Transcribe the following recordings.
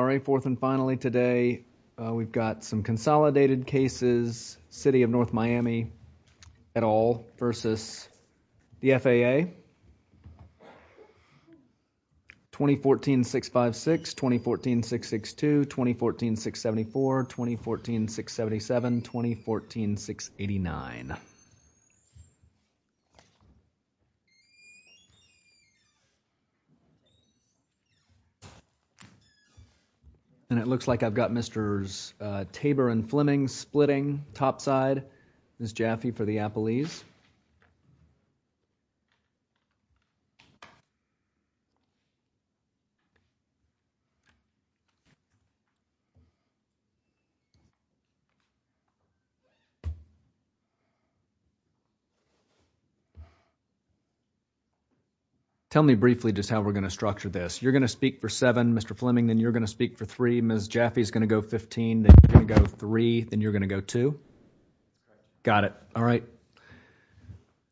Alright fourth and finally today we've got some consolidated cases City of North Miami at all versus the FAA 2014-656, 2014-662, 2014-674, 2014-677, 2014-689 and it looks like I've got Mr. Tabor and Fleming splitting top side. Ms. Jaffe for the Appellees. Tell me briefly just how we're going to structure this. You're going to speak for three, Ms. Jaffe is going to go 15, then you're going to go three, then you're going to go two? Got it. Alright,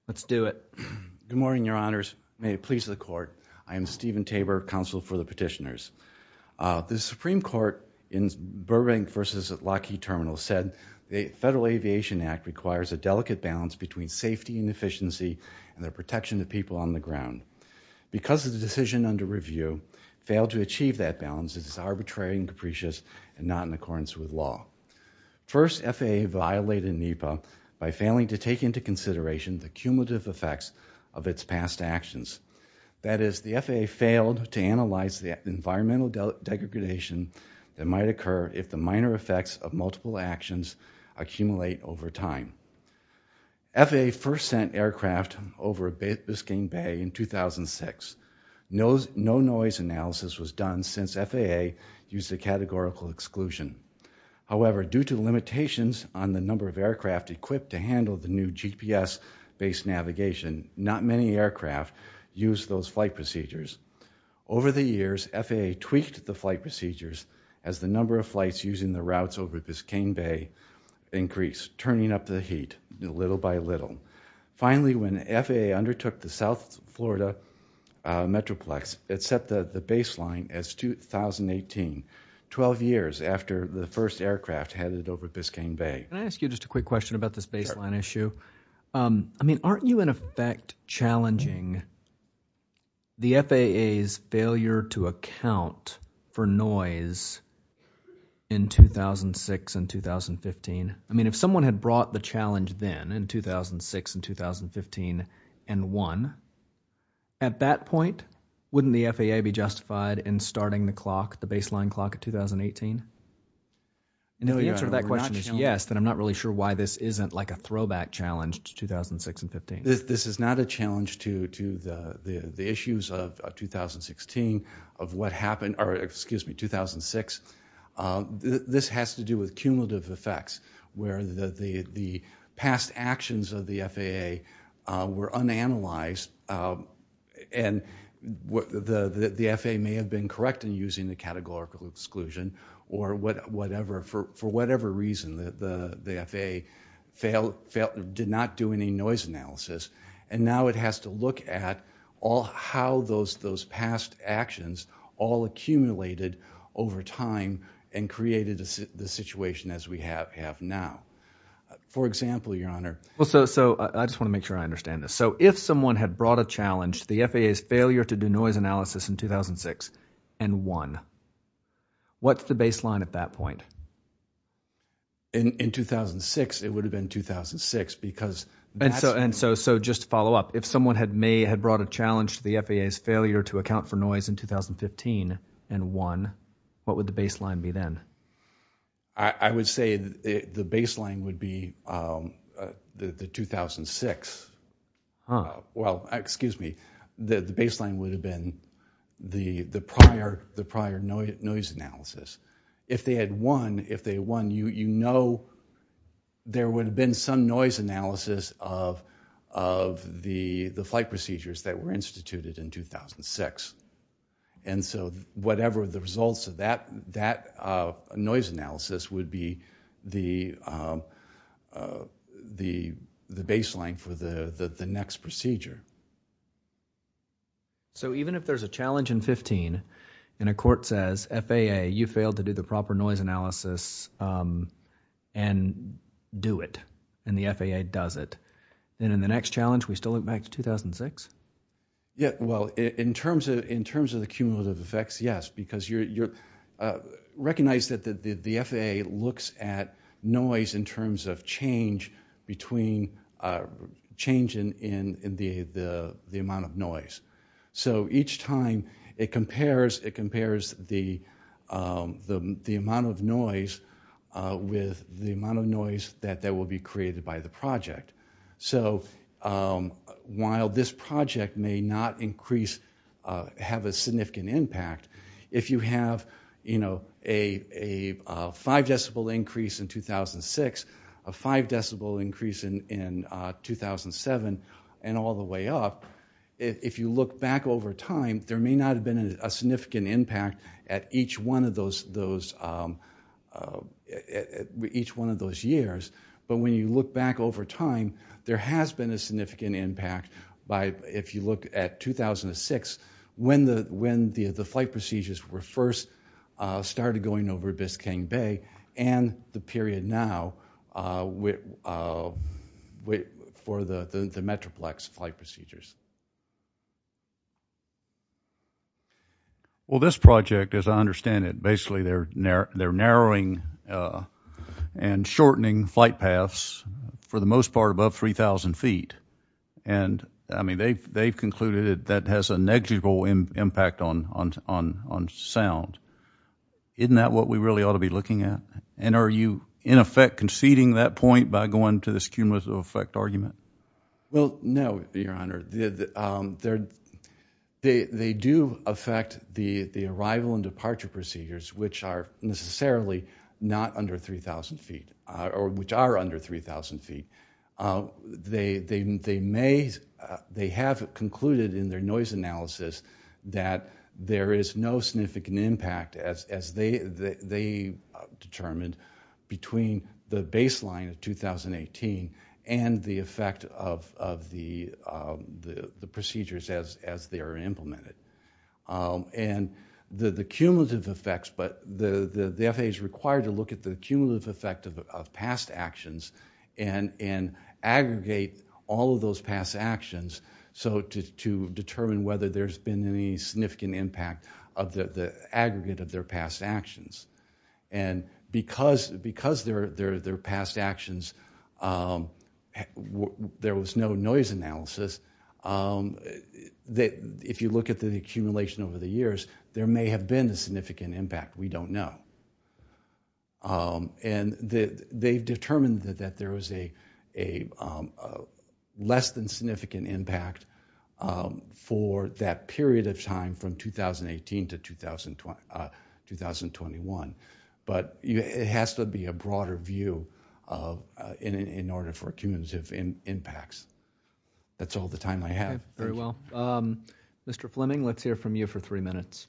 let's do it. Good morning, your honors. May it please the court. I am Stephen Tabor, counsel for the petitioners. The Supreme Court in Burbank v. Lockheed Terminal said the Federal Aviation Act requires a delicate balance between safety and efficiency and the protection of people on the ground. Because of the decision under arbitrary and capricious and not in accordance with law. First, FAA violated NEPA by failing to take into consideration the cumulative effects of its past actions. That is, the FAA failed to analyze the environmental degradation that might occur if the minor effects of multiple actions accumulate over time. FAA first sent aircraft over Biscayne Bay in 2006. No noise analysis was done since FAA used a categorical exclusion. However, due to limitations on the number of aircraft equipped to handle the new GPS based navigation, not many aircraft used those flight procedures. Over the years, FAA tweaked the flight procedures as the number of flights using the routes over Biscayne Bay increased, turning up the heat little by little. Finally, when FAA undertook the South Florida Metroplex, it set the baseline as 2018, 12 years after the first aircraft headed over Biscayne Bay. Can I ask you just a quick question about this baseline issue? I mean, aren't you in effect challenging the FAA's failure to account for noise in 2006 and 2015? I mean, if someone had brought the FAA back in 2006 and 2015 and won, at that point, wouldn't the FAA be justified in starting the clock, the baseline clock of 2018? And if the answer to that question is yes, then I'm not really sure why this isn't like a throwback challenge to 2006 and 15. This is not a challenge to the issues of 2016, of what happened, or excuse me, 2006. This has to do with cumulative effects where the past actions of the FAA were unanalyzed, and the FAA may have been correct in using the categorical exclusion, or whatever, for whatever reason, the FAA did not do any noise analysis, and now it has to look at how those past actions all accumulated over time and created the situation as we have now. For example, your honor. Well, so I just want to make sure I understand this. So if someone had brought a challenge, the FAA's failure to do noise analysis in 2006 and won, what's the baseline at that point? In 2006, it would have been 2006, because... And so just to follow up, if someone had brought a challenge to the FAA's failure to account for noise in 2015 and won, what would the baseline be then? I would say the baseline would be the 2006. Well, excuse me, the baseline would have been the prior noise analysis. If they had won, you know there would have been some noise analysis of the flight procedures that were instituted in 2006. And so whatever the results of that noise analysis would be the baseline for the next procedure. So even if there's a challenge in 15, and a court says, FAA, you failed to do the proper noise analysis and do it, and the FAA does it, then in the next challenge, we still look back to 2006? Yeah, well, in terms of the cumulative effects, yes. Because you recognize that the FAA looks at noise in terms of change between change in the amount of noise. So each time it compares the amount of noise with the amount of noise that will be created by the project. So while this project may not increase, have a significant impact, if you have, you know, a five decibel increase in 2006, a five decibel increase in 2007, and all the way up, if you look back over time, there may not have been a significant impact at each one of those each one of those years. But when you look back over time, there has been a significant impact by if you look at 2006, when the flight procedures were first started going over Biscayne Bay, and the period now for the Metroplex flight procedures. Well, this project, as I understand it, basically, they're narrowing and shortening flight paths for the most part above 3,000 feet. And I mean, they've concluded that has a negligible impact on on sound. Isn't that what we really ought to be looking at? And are you, in effect, conceding that point by going to this cumulative effect argument? Well, no, Your Honor. They do affect the arrival and departure procedures, which are necessarily not under 3,000 feet, or which are under 3,000 feet. They may, they have concluded in their noise analysis that there is no significant impact as they determined between the baseline of 2018 and the effect of the procedures as they are implemented. And the cumulative effects, but the FAA is required to look at the cumulative effect of past actions and aggregate all of those past actions to determine whether there's been any significant impact of the aggregate of their past actions. And because their past actions, there was no noise analysis, if you look at the accumulation over the years, there may have been a significant impact. We don't know. And they've determined that there was a less than significant impact of that period of time from 2018 to 2021. But it has to be a broader view in order for cumulative impacts. That's all the time I have. Okay. Very well. Mr. Fleming, let's hear from you for three minutes.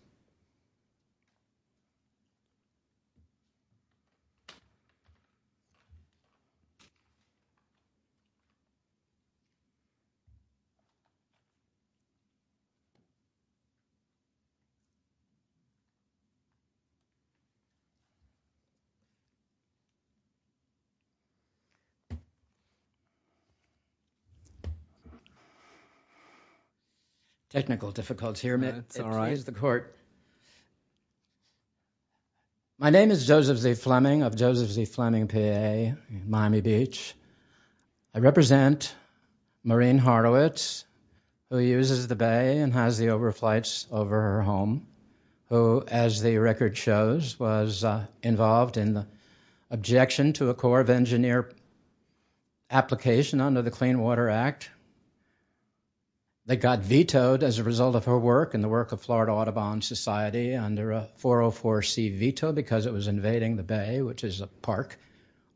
Technical difficulties here. Here's the court. My name is Joseph Z. Fleming of Joseph Z. Fleming PA, Miami Beach. I represent Maureen Horowitz, who uses the bay and has the overflights over her home, who, as the record shows, was involved in the objection to a Corps of Engineers application under the Clean Water Act that got vetoed as a result of her work and the work of Florida Audubon Society under a 404C veto because it was invading the bay, which is a park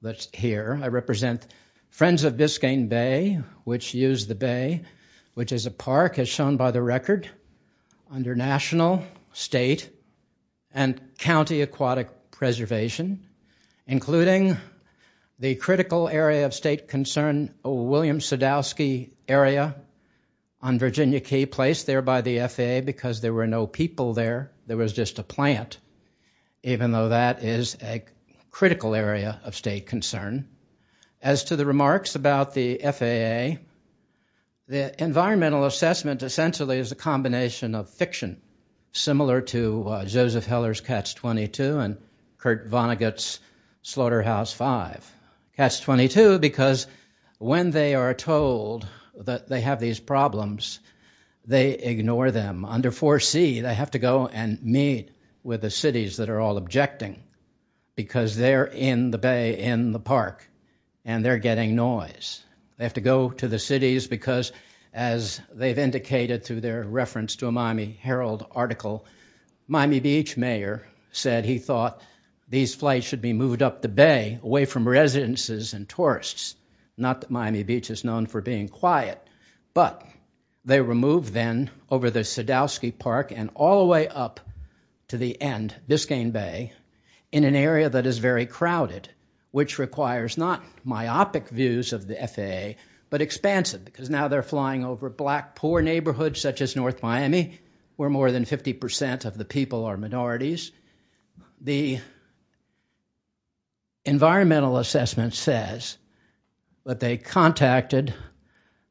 that's here. I represent Friends of Biscayne Bay, which used the bay, which is a park, as shown by the record, under national, state, and county aquatic preservation, including the critical area of state concern, William Sadowski area on Virginia Key, placed there by the FAA because there were no people there. There was just a plant, even though that is a critical area of state concern. As to the remarks about the FAA, the environmental assessment essentially is a combination of fiction, similar to Joseph Heller's Catch-22 and Kurt Vonnegut's Slaughterhouse-5. Catch-22, because when they are told that they have these problems, they ignore them. Under 4C, they have to go and meet with the cities that are all objecting because they're in the bay, in the park, and they're getting noise. They have to go to the cities because, as they've indicated through their reference to a Miami Herald article, Miami Beach mayor said he thought these flights should be moved up the bay, away from residences and tourists. Not that Miami Beach is known for being quiet, but they were moved then over the Sadowski Park and all the way up to the end, Biscayne Bay, in an area that is very crowded, which requires not myopic views of the FAA, but expansive because now they're flying over black, poor neighborhoods such as North Miami, where more than 50% of the people are minorities. The environmental assessment says that they contacted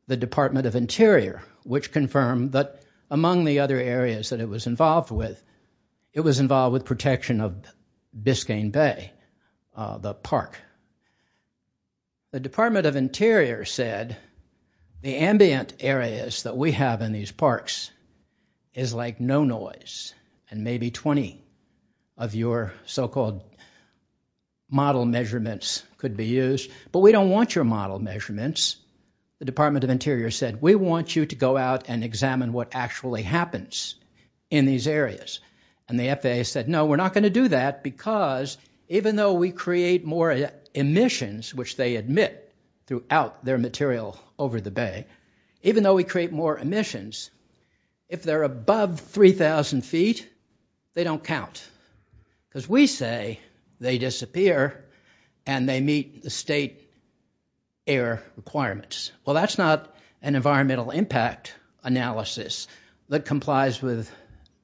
the Department of Interior, which confirmed that among the other areas that it was involved with, it was involved with protection of Biscayne Bay, the park. The Department of Interior said the ambient areas that we have in these parks is like no noise, and maybe 20 of your so-called model measurements could be used, but we don't want your model measurements. The Department of Interior said we want you to go out and examine what actually happens in these areas, and the FAA said no, we're not going to do that because even though we create more emissions, which they admit throughout their material over the bay, even though we create more emissions, if they're above 3,000 feet, they don't count because we say they disappear and they meet the state air requirements. Well, that's not an environmental impact analysis that complies with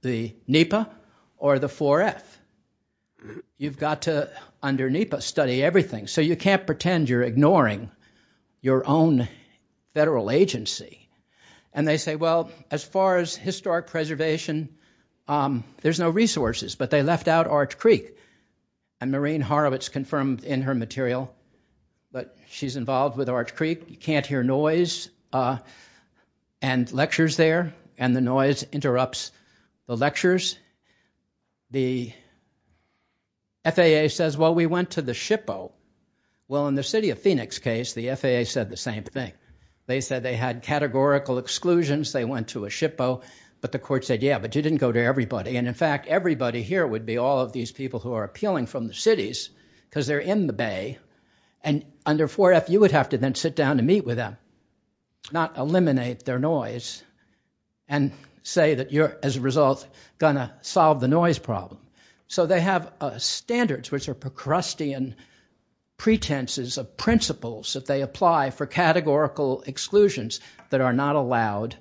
the NEPA or the 4F. You've got to, under NEPA, study everything, so you can't pretend you're ignoring your own federal agency, and they say, well, as far as historic preservation, there's no resources, but they left out Arch Creek, and Maureen Horowitz confirmed in her material that she's involved with Arch Creek. You can't hear noise and lectures there, and the noise interrupts the lectures. The FAA says, well, we went to the SHPO. Well, in the City of Phoenix case, the FAA said the same thing. They said they had categorical exclusions. They went to a SHPO, but the court said, yeah, but you didn't go to everybody, and in fact, everybody here would be all of these people who are appealing from the cities because they're in the Bay, and under 4F, you would have to then sit down and meet with them, not eliminate their noise and say that you're, as a result, gonna solve the noise problem. So they have standards which are Procrustean pretenses of principles that they apply for categorical exclusions that are not allowed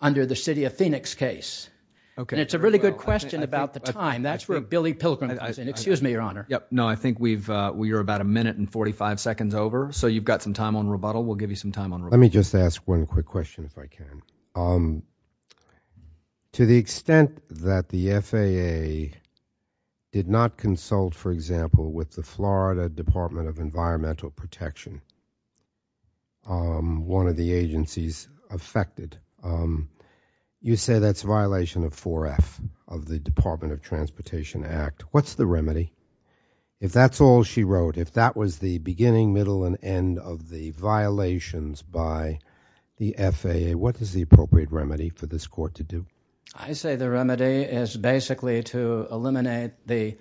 under the City of Phoenix case, and it's a really good question about the time. That's where Billy Pilgrim, excuse me, Your Honor. No, I think we've, uh, we are about a minute and 45 seconds over, so you've got some time on rebuttal. We'll give you some time on rebuttal. Let me just ask one quick question if I can. Um, to the extent that the FAA did not consult, for example, with the Florida Department of Environmental Protection, um, one of the agencies affected, um, you say that's a violation of 4F of the Department of Transportation Act. What's the remedy? If that's all she wrote, if that was the beginning, middle, and end of the violations by the FAA, what is the appropriate remedy for this Court to do? I say the remedy is basically to eliminate the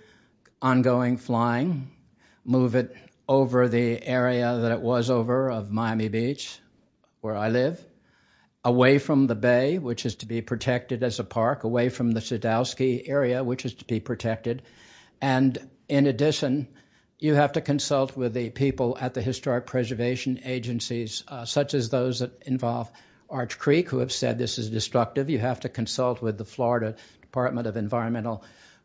ongoing flying, move it over the area that it was over of Miami Beach, where I live, away from the Bay, which is to be protected as a park, away from the Sadowski area, which is to be protected, and in addition, you have to consult with the people at the Historic Preservation Agencies, uh, such as those that involve Arch Creek, who have said this is destructive. You have to consult with the Florida Department of Environmental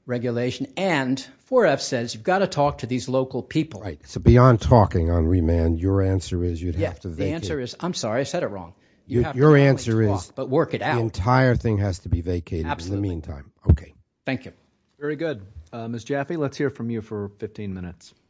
Regulation, and 4F says you've got to talk to these local people. Right. So, beyond talking on remand, your answer is you'd have to vacate. The answer is, I'm sorry, I said it wrong. Your answer is the entire thing has to be vacated in the meantime. Okay. Thank you. Very good. Uh, Ms. Jaffe, let's hear from you for 15 minutes. Okay.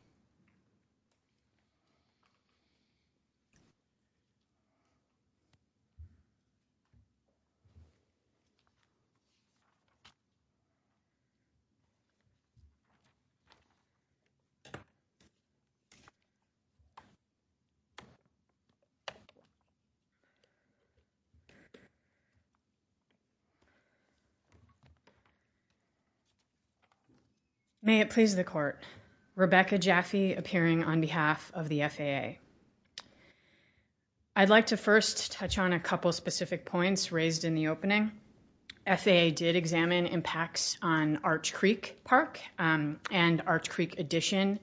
May it please the Court. Rebecca Jaffe, appearing on behalf of the FAA. Okay. I'd like to first touch on a couple of specific points raised in the opening. FAA did examine impacts on Arch Creek Park, um, and Arch Creek addition.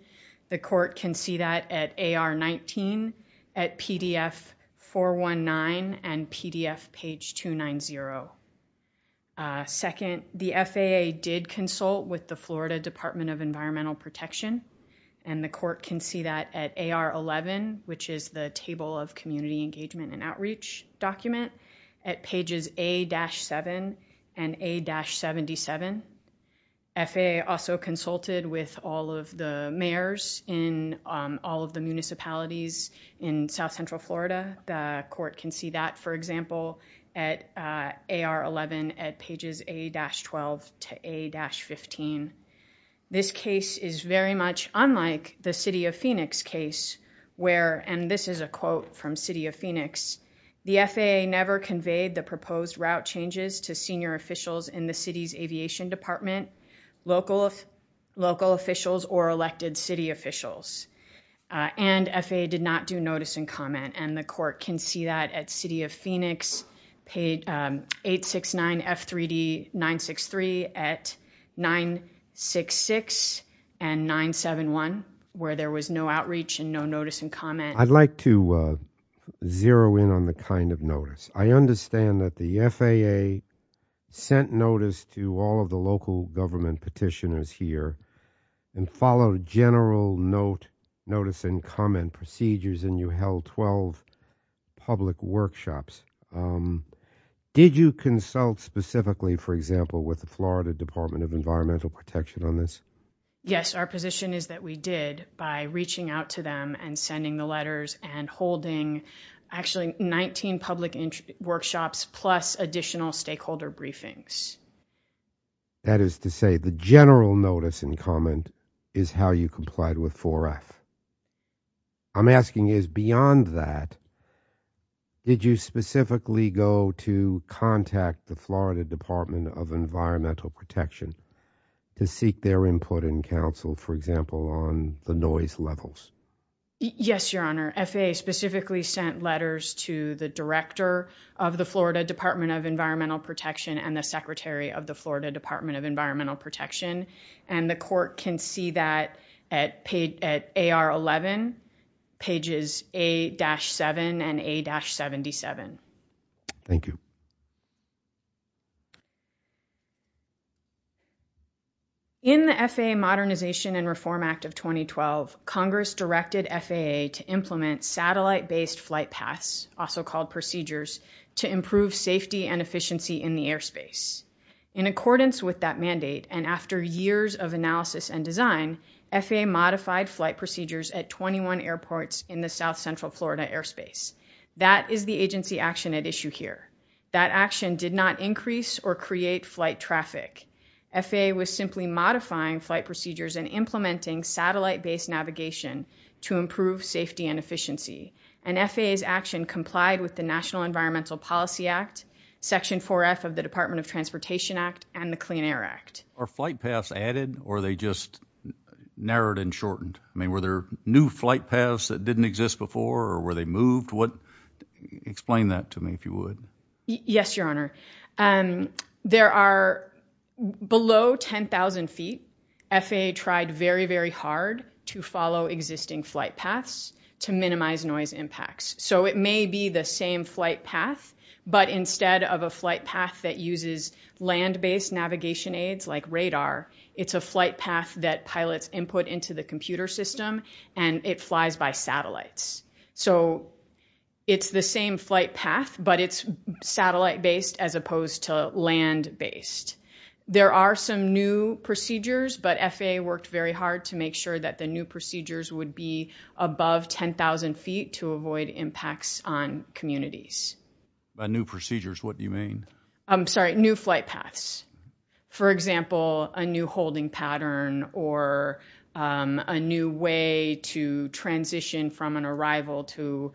The Court can see that at AR 19, at PDF 419, and PDF page 290. Uh, second, the FAA did consult with the Florida Department of Environmental Protection, and the Court can see that at AR 11, which is the Table of Community Engagement and Outreach document, at pages A-7 and A-77. FAA also consulted with all of the mayors in, um, all of the municipalities in South Central Florida. The Court can see that, for example, at AR 11, at pages A-12 to A-15. This case is very much unlike the City of Phoenix case, where, and this is a quote from City of Phoenix, the FAA never conveyed the proposed route changes to senior officials in the city's aviation department, local officials, or elected city officials. Uh, and FAA did not do notice and comment, and the Court can see that at City of Phoenix, page, um, 869 F3D 963, at 966 and 971, where there was no outreach and no notice and comment. I'd like to, uh, zero in on the kind of notice. I understand that the FAA sent notice to all of the local government petitioners here, and followed general note, notice, and comment procedures, and you held 12 public workshops. Um, did you consult specifically, for example, with the Florida Department of Environmental Protection on this? Yes, our position is that we did by reaching out to them and sending the letters and holding, actually, 19 public workshops, plus additional stakeholder briefings. That is to say, the general notice and comment is how you complied with 4F. I'm asking is, beyond that, did you specifically go to contact the Florida Department of Environmental Protection to seek their input and counsel, for example, on the noise levels? Yes, Your Honor. FAA specifically sent letters to the Director of the Florida Department of Environmental Protection and the Secretary of the Florida Department of Environmental Protection, and the Court can see that at page, at AR 11, pages A-7 and A-77. Thank you. In the FAA Modernization and Reform Act of 2012, Congress directed FAA to implement satellite-based flight paths, also called procedures, to improve safety and efficiency in the airspace. In accordance with that mandate, and after years of analysis and design, FAA modified flight procedures at 21 airports in the South Central Florida airspace. That is the agency action at issue here. That action did not increase or create flight traffic. FAA was simply modifying flight procedures and implementing satellite-based navigation to improve safety and efficiency, and FAA's action complied with the National Environmental Policy Act, Section 4F of the Department of Transportation Act, and the Clean Air Act. Are flight paths added, or are they just narrowed and shortened? I mean, were there new flight paths that didn't exist before, or were they moved? Explain that to me, if you would. Yes, Your Honor. There are, below 10,000 feet, FAA tried very, very hard to follow existing flight paths to minimize noise impacts. So it may be the same flight path, but instead of a flight path that uses land-based navigation aids like radar, it's a flight path that pilots input into the computer system, and it flies by satellites. So it's the same flight path, but it's satellite-based as opposed to land-based. There are some new procedures, but FAA worked very hard to make sure that the new procedures would be above 10,000 feet to avoid impacts on communities. By new procedures, what do you mean? I'm sorry, new flight paths. For example, a new holding pattern or a new way to transition from an arrival to,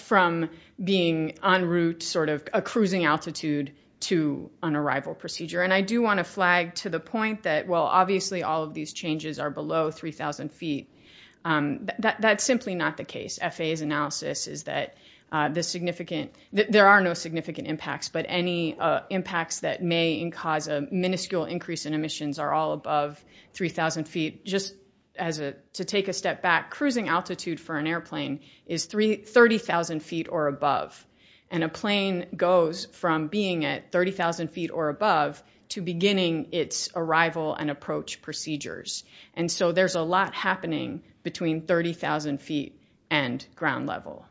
from being en route, sort of a cruising altitude to an arrival procedure. And I do want to flag to the point that, well, obviously all of these changes are below 3,000 feet. That's simply not the case. FAA's analysis is that the significant, there are no significant impacts, but any impacts that may cause a minuscule increase in emissions are all above 3,000 feet. Just as a, to take a step back, cruising altitude for an airplane is 30,000 feet or above. And a plane goes from being at 30,000 feet or above to beginning its arrival and approach procedures. And so there's a lot happening between 30,000 feet and ground level.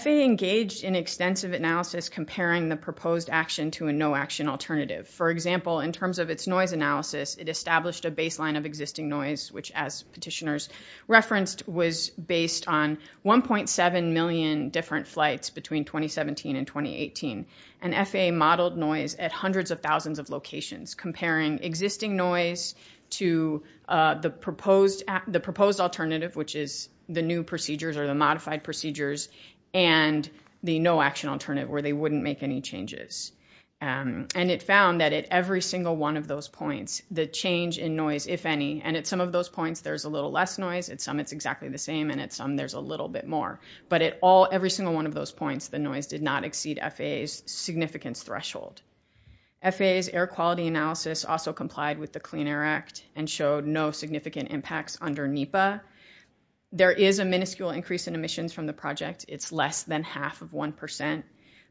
FAA engaged in extensive analysis comparing the proposed action to a no action alternative. For example, in terms of its noise analysis, it established a baseline of existing noise, which as petitioners referenced was based on 1.7 million different flights between 2017 and 2018. And FAA modeled noise at hundreds of thousands of locations comparing existing noise to the proposed alternative, which is the new procedures or the modified procedures and the no action alternative where they wouldn't make any changes. And it found that at every single one of those points, the change in noise, if any, and at some of those points, there's a little less noise, at some it's exactly the same, and at some there's a little bit more, but at all, every single one of those points, the noise did not exceed FAA's significance threshold. FAA's air quality analysis also complied with the Clean Air Act and showed no significant impacts under NEPA. There is a minuscule increase in emissions from the project. It's less than half of 1%,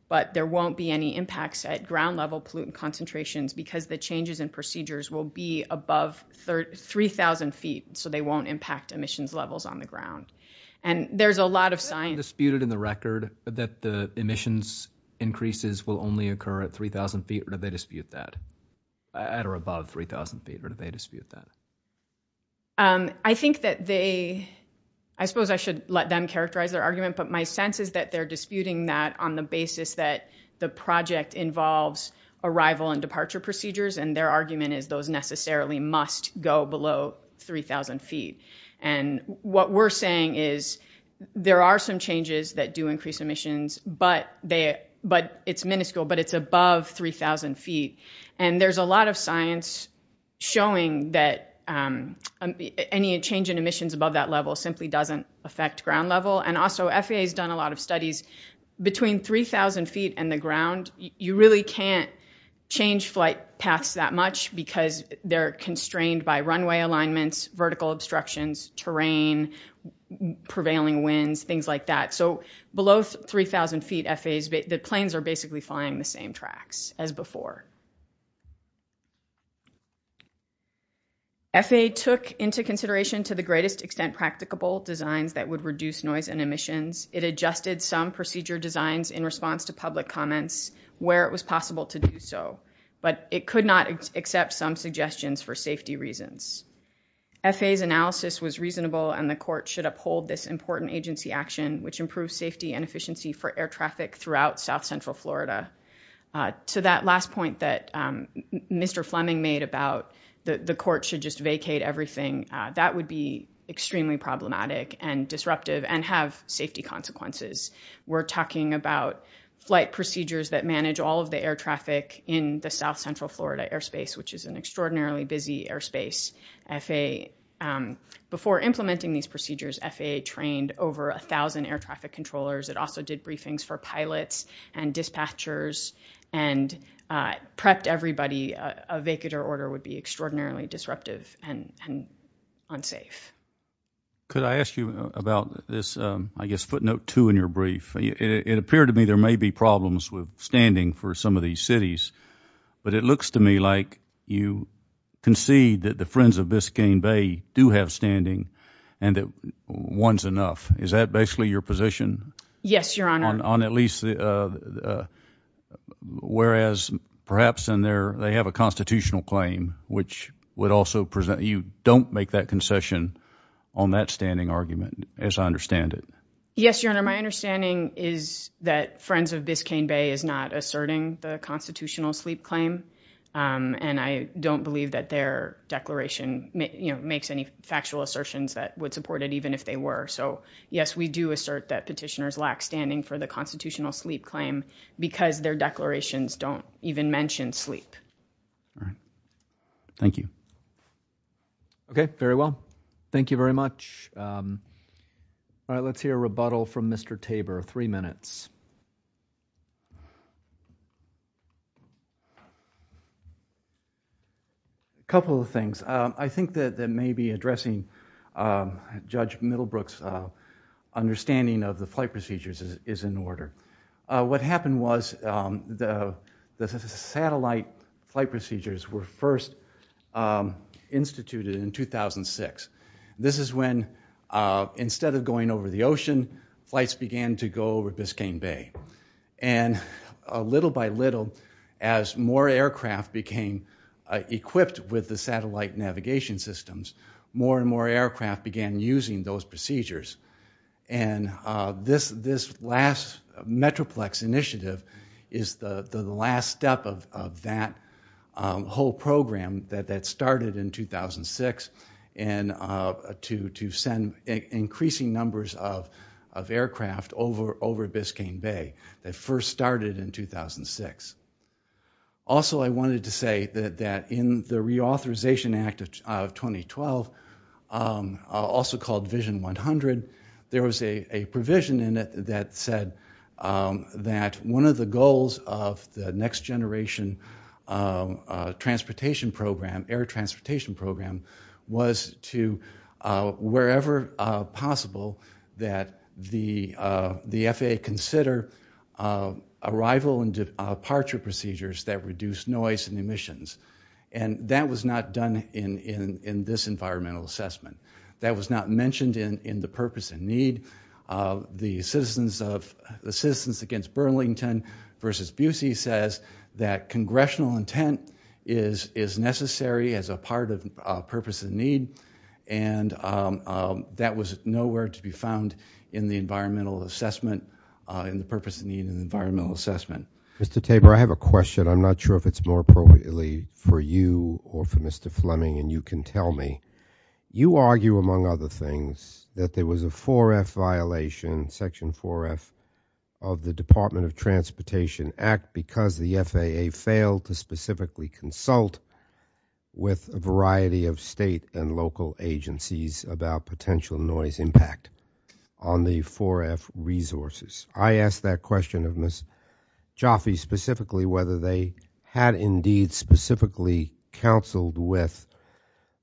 but there won't be any impacts at ground level pollutant concentrations because the changes in procedures will be above 3,000 feet. So they won't impact emissions levels on the ground. And there's a lot of science- Disputed in the record that the emissions increases will only occur at 3,000 feet or do they dispute that? At or above 3,000 feet or do they dispute that? I think that they, I suppose I should let them characterize their argument, but my sense is that they're disputing that on the basis that the project involves arrival and departure procedures and their argument is those necessarily must go below 3,000 feet. And what we're saying is there are some changes that do increase emissions, but it's minuscule, but it's above 3,000 feet. And there's a lot of science showing that any change in emissions above that level simply doesn't affect ground level. And also, FAA has done a lot of studies between 3,000 feet and the ground, you really can't change flight paths that much because they're constrained by runway alignments, vertical obstructions, terrain, prevailing winds, things like that. So below 3,000 feet, the planes are basically flying the same tracks as before. FAA took into consideration to the greatest extent practicable designs that would reduce noise and emissions. It adjusted some procedure designs in response to public comments where it was possible to do so, but it could not accept some suggestions for safety reasons. FAA's analysis was reasonable and the court should uphold this important agency action, which improves safety and efficiency for Mr. Fleming made about the court should just vacate everything. That would be extremely problematic and disruptive and have safety consequences. We're talking about flight procedures that manage all of the air traffic in the South Central Florida airspace, which is an extraordinarily busy airspace. Before implementing these procedures, FAA trained over a thousand air a vacater order would be extraordinarily disruptive and unsafe. Could I ask you about this? I guess footnote two in your brief, it appeared to me there may be problems with standing for some of these cities, but it looks to me like you concede that the friends of Biscayne Bay do have standing and that one's enough. Is that basically your position? Yes, your honor. Whereas perhaps they have a constitutional claim, which would also present you don't make that concession on that standing argument as I understand it. Yes, your honor, my understanding is that friends of Biscayne Bay is not asserting the constitutional sleep claim and I don't believe that their declaration makes any factual assertions that would support it even if they were. So yes, we do assert that petitioners lack standing for the constitutional sleep claim because their declarations don't even mention sleep. All right. Thank you. Okay. Very well. Thank you very much. All right. Let's hear a rebuttal from Mr. Tabor. Three Brooks understanding of the flight procedures is in order. What happened was the satellite flight procedures were first instituted in 2006. This is when instead of going over the ocean, flights began to go over Biscayne Bay. And little by little as more aircraft became equipped with satellite navigation systems, more and more aircraft began using those procedures. And this last Metroplex initiative is the last step of that whole program that started in 2006 to send increasing numbers of aircraft over Biscayne Bay that first started in 2006. Also, I wanted to say that in the reauthorization act of 2012, also called vision 100, there was a provision in it that said that one of the goals of the next generation transportation program, air transportation program, was to wherever possible that the FAA consider arrival and departure procedures that reduce noise and emissions. And that was not done in this environmental assessment. That was not mentioned in the purpose and need. The citizens against Burlington versus Busey says that congressional intent is necessary as a part of purpose and need, and that was nowhere to be found in the environmental assessment, in the purpose and need of the environmental assessment. Mr. Tabor, I have a question. I'm not sure if it's more appropriately for you or for Mr. Fleming, and you can tell me. You argue, among other things, that there was a 4F violation, section 4F, of the Department of Transportation Act because the FAA failed to specifically consult with a variety of state and local agencies about potential noise impact on the 4F resources. I asked that question of Ms. Jaffe specifically whether they had indeed specifically counseled with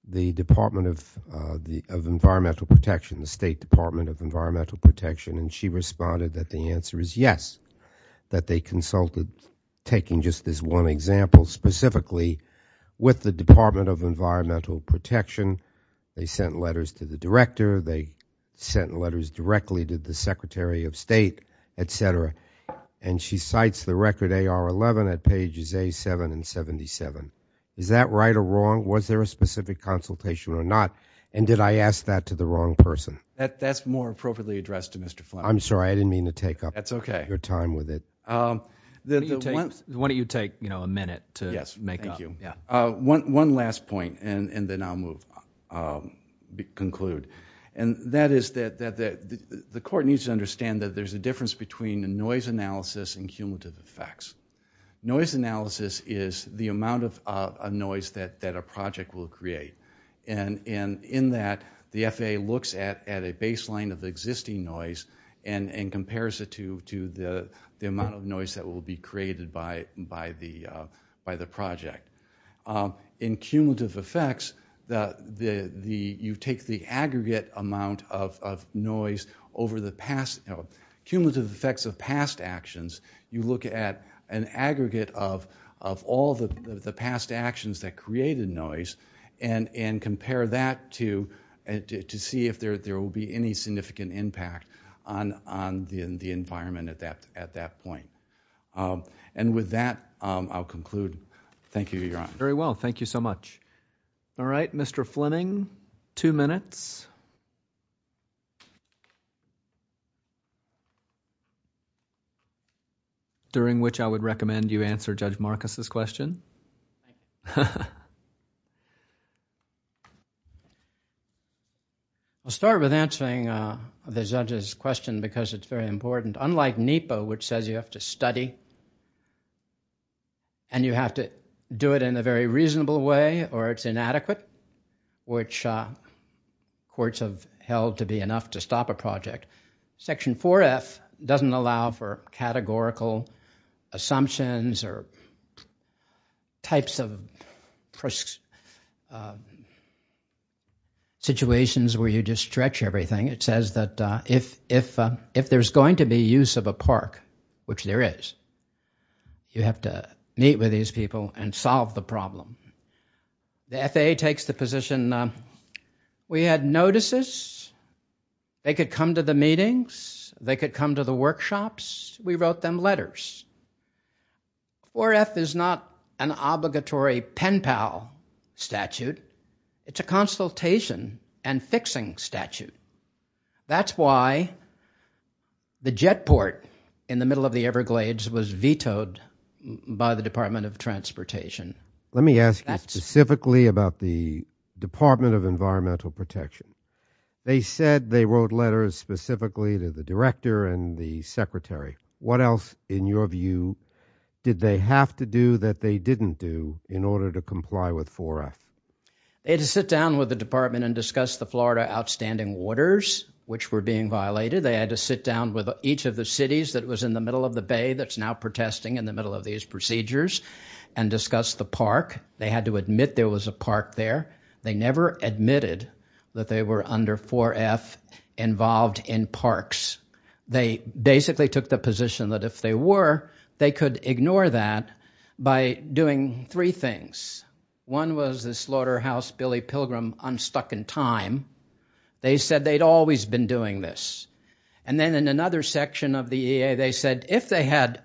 the Department of Environmental Protection, the State Department of Environmental Protection, and she responded that the answer is yes, that they consulted, taking just this one example specifically, with the Department of Environmental Protection. They sent letters to the director. They sent letters directly to the Secretary of State, etc., and she cites the record AR11 at pages A7 and 77. Is that right or wrong? Was there a specific consultation or not, and did I ask that to the wrong person? That's more appropriately addressed to Mr. Fleming. I'm sorry. I didn't mean to take up your time with it. That's okay. Why don't you take a minute to make up. Yes, thank you. The court needs to understand that there's a difference between the noise analysis and cumulative effects. Noise analysis is the amount of noise that a project will create, and in that, the FAA looks at a baseline of existing noise and compares it to the amount of noise that will be noise over the cumulative effects of past actions. You look at an aggregate of all the past actions that created noise and compare that to see if there will be any significant impact on the environment at that point. With that, I'll conclude. Thank you, Your Honor. Very well. Thank you so much. All right. Mr. Fleming, two minutes, during which I would recommend you answer Judge Marcus' question. I'll start with answering the judge's question because it's very important. Unlike NEPA, which says you have to study and you have to do it in a very reasonable way or it's inadequate, which courts have held to be enough to stop a project, Section 4F doesn't allow for categorical assumptions or types of situations where you just stretch everything. It says that if there's going to be use of a park, which there is, you have to meet with these people and solve the problem. The FAA takes the position, we had notices, they could come to the meetings, they could come to the workshops, we wrote them letters. 4F is not an obligatory pen pal statute, it's a consultation and fixing statute. That's why the jet port in the middle of the Everglades was vetoed by the Department of Transportation. Let me ask you specifically about the Department of Environmental Protection. They said they wrote letters specifically to the director and the secretary. What else, in your view, did they have to do that they didn't do in order to comply with Section 4F? They had to sit down with the department and discuss the Florida outstanding orders, which were being violated. They had to sit down with each of the cities that was in the middle of the bay that's now protesting in the middle of these procedures and discuss the park. They had to admit there was a park there. They never admitted that they were under 4F involved in parks. They basically took the position that if they were, they could ignore that by doing three things. One was the slaughterhouse Billy Pilgrim unstuck in time. They said they'd always been doing this. And then in another section of the EAA, they said if they had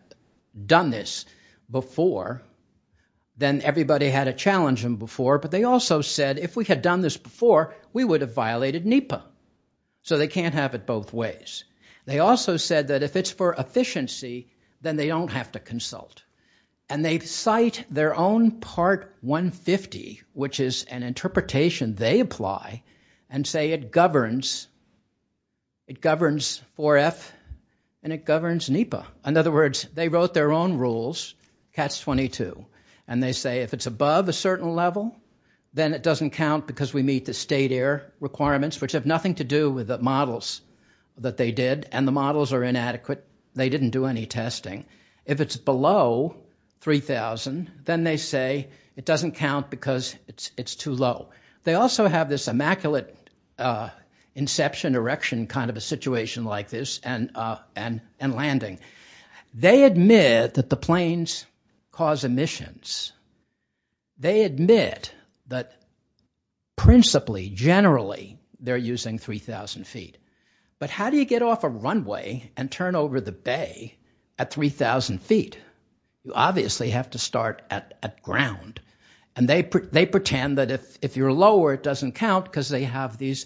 done this before, then everybody had to challenge them before. But they also said if we had done this before, we would have violated NEPA. So they can't have it both ways. They also said that if it's for efficiency, then they don't have to consult. And they cite their own part 150, which is an interpretation they apply, and say it governs 4F and it governs NEPA. In other words, they wrote their own rules, catch 22. And they say if it's above a certain level, then it doesn't count because we meet the state air requirements, which have nothing to do with the models that they did and the models are inadequate. They didn't do any testing. If it's below 3,000, then they say it doesn't count because it's too low. They also have this immaculate inception erection kind of a situation like this and landing. They admit that the planes cause emissions. They admit that principally, generally, they're using 3,000 feet. But how do you get off a runway and turn over the bay at 3,000 feet? You obviously have to start at ground. And they pretend that if you're lower, it doesn't count because they have these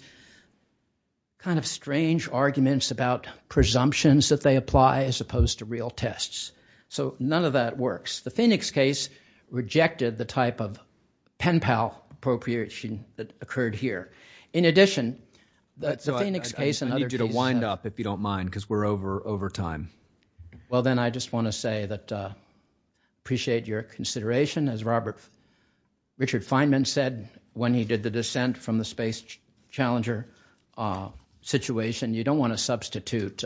kind of strange arguments about presumptions that they apply as opposed to real tests. So none of that works. The Phoenix case, rejected the type of pen pal appropriation that occurred here. In addition, that's the Phoenix case. I need you to wind up if you don't mind because we're over time. Well, then I just want to say that I appreciate your consideration. As Robert Richard Feynman said when he did the descent from the space challenger situation, you don't want to substitute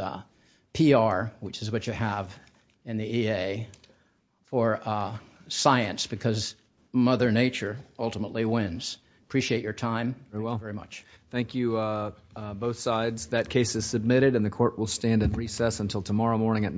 PR, which is what you have in the E. A. For, uh, science because Mother Nature ultimately wins. Appreciate your time. Very well. Very much. Thank you. Uh, both sides. That case is submitted, and the court will stand and recess until tomorrow morning at nine.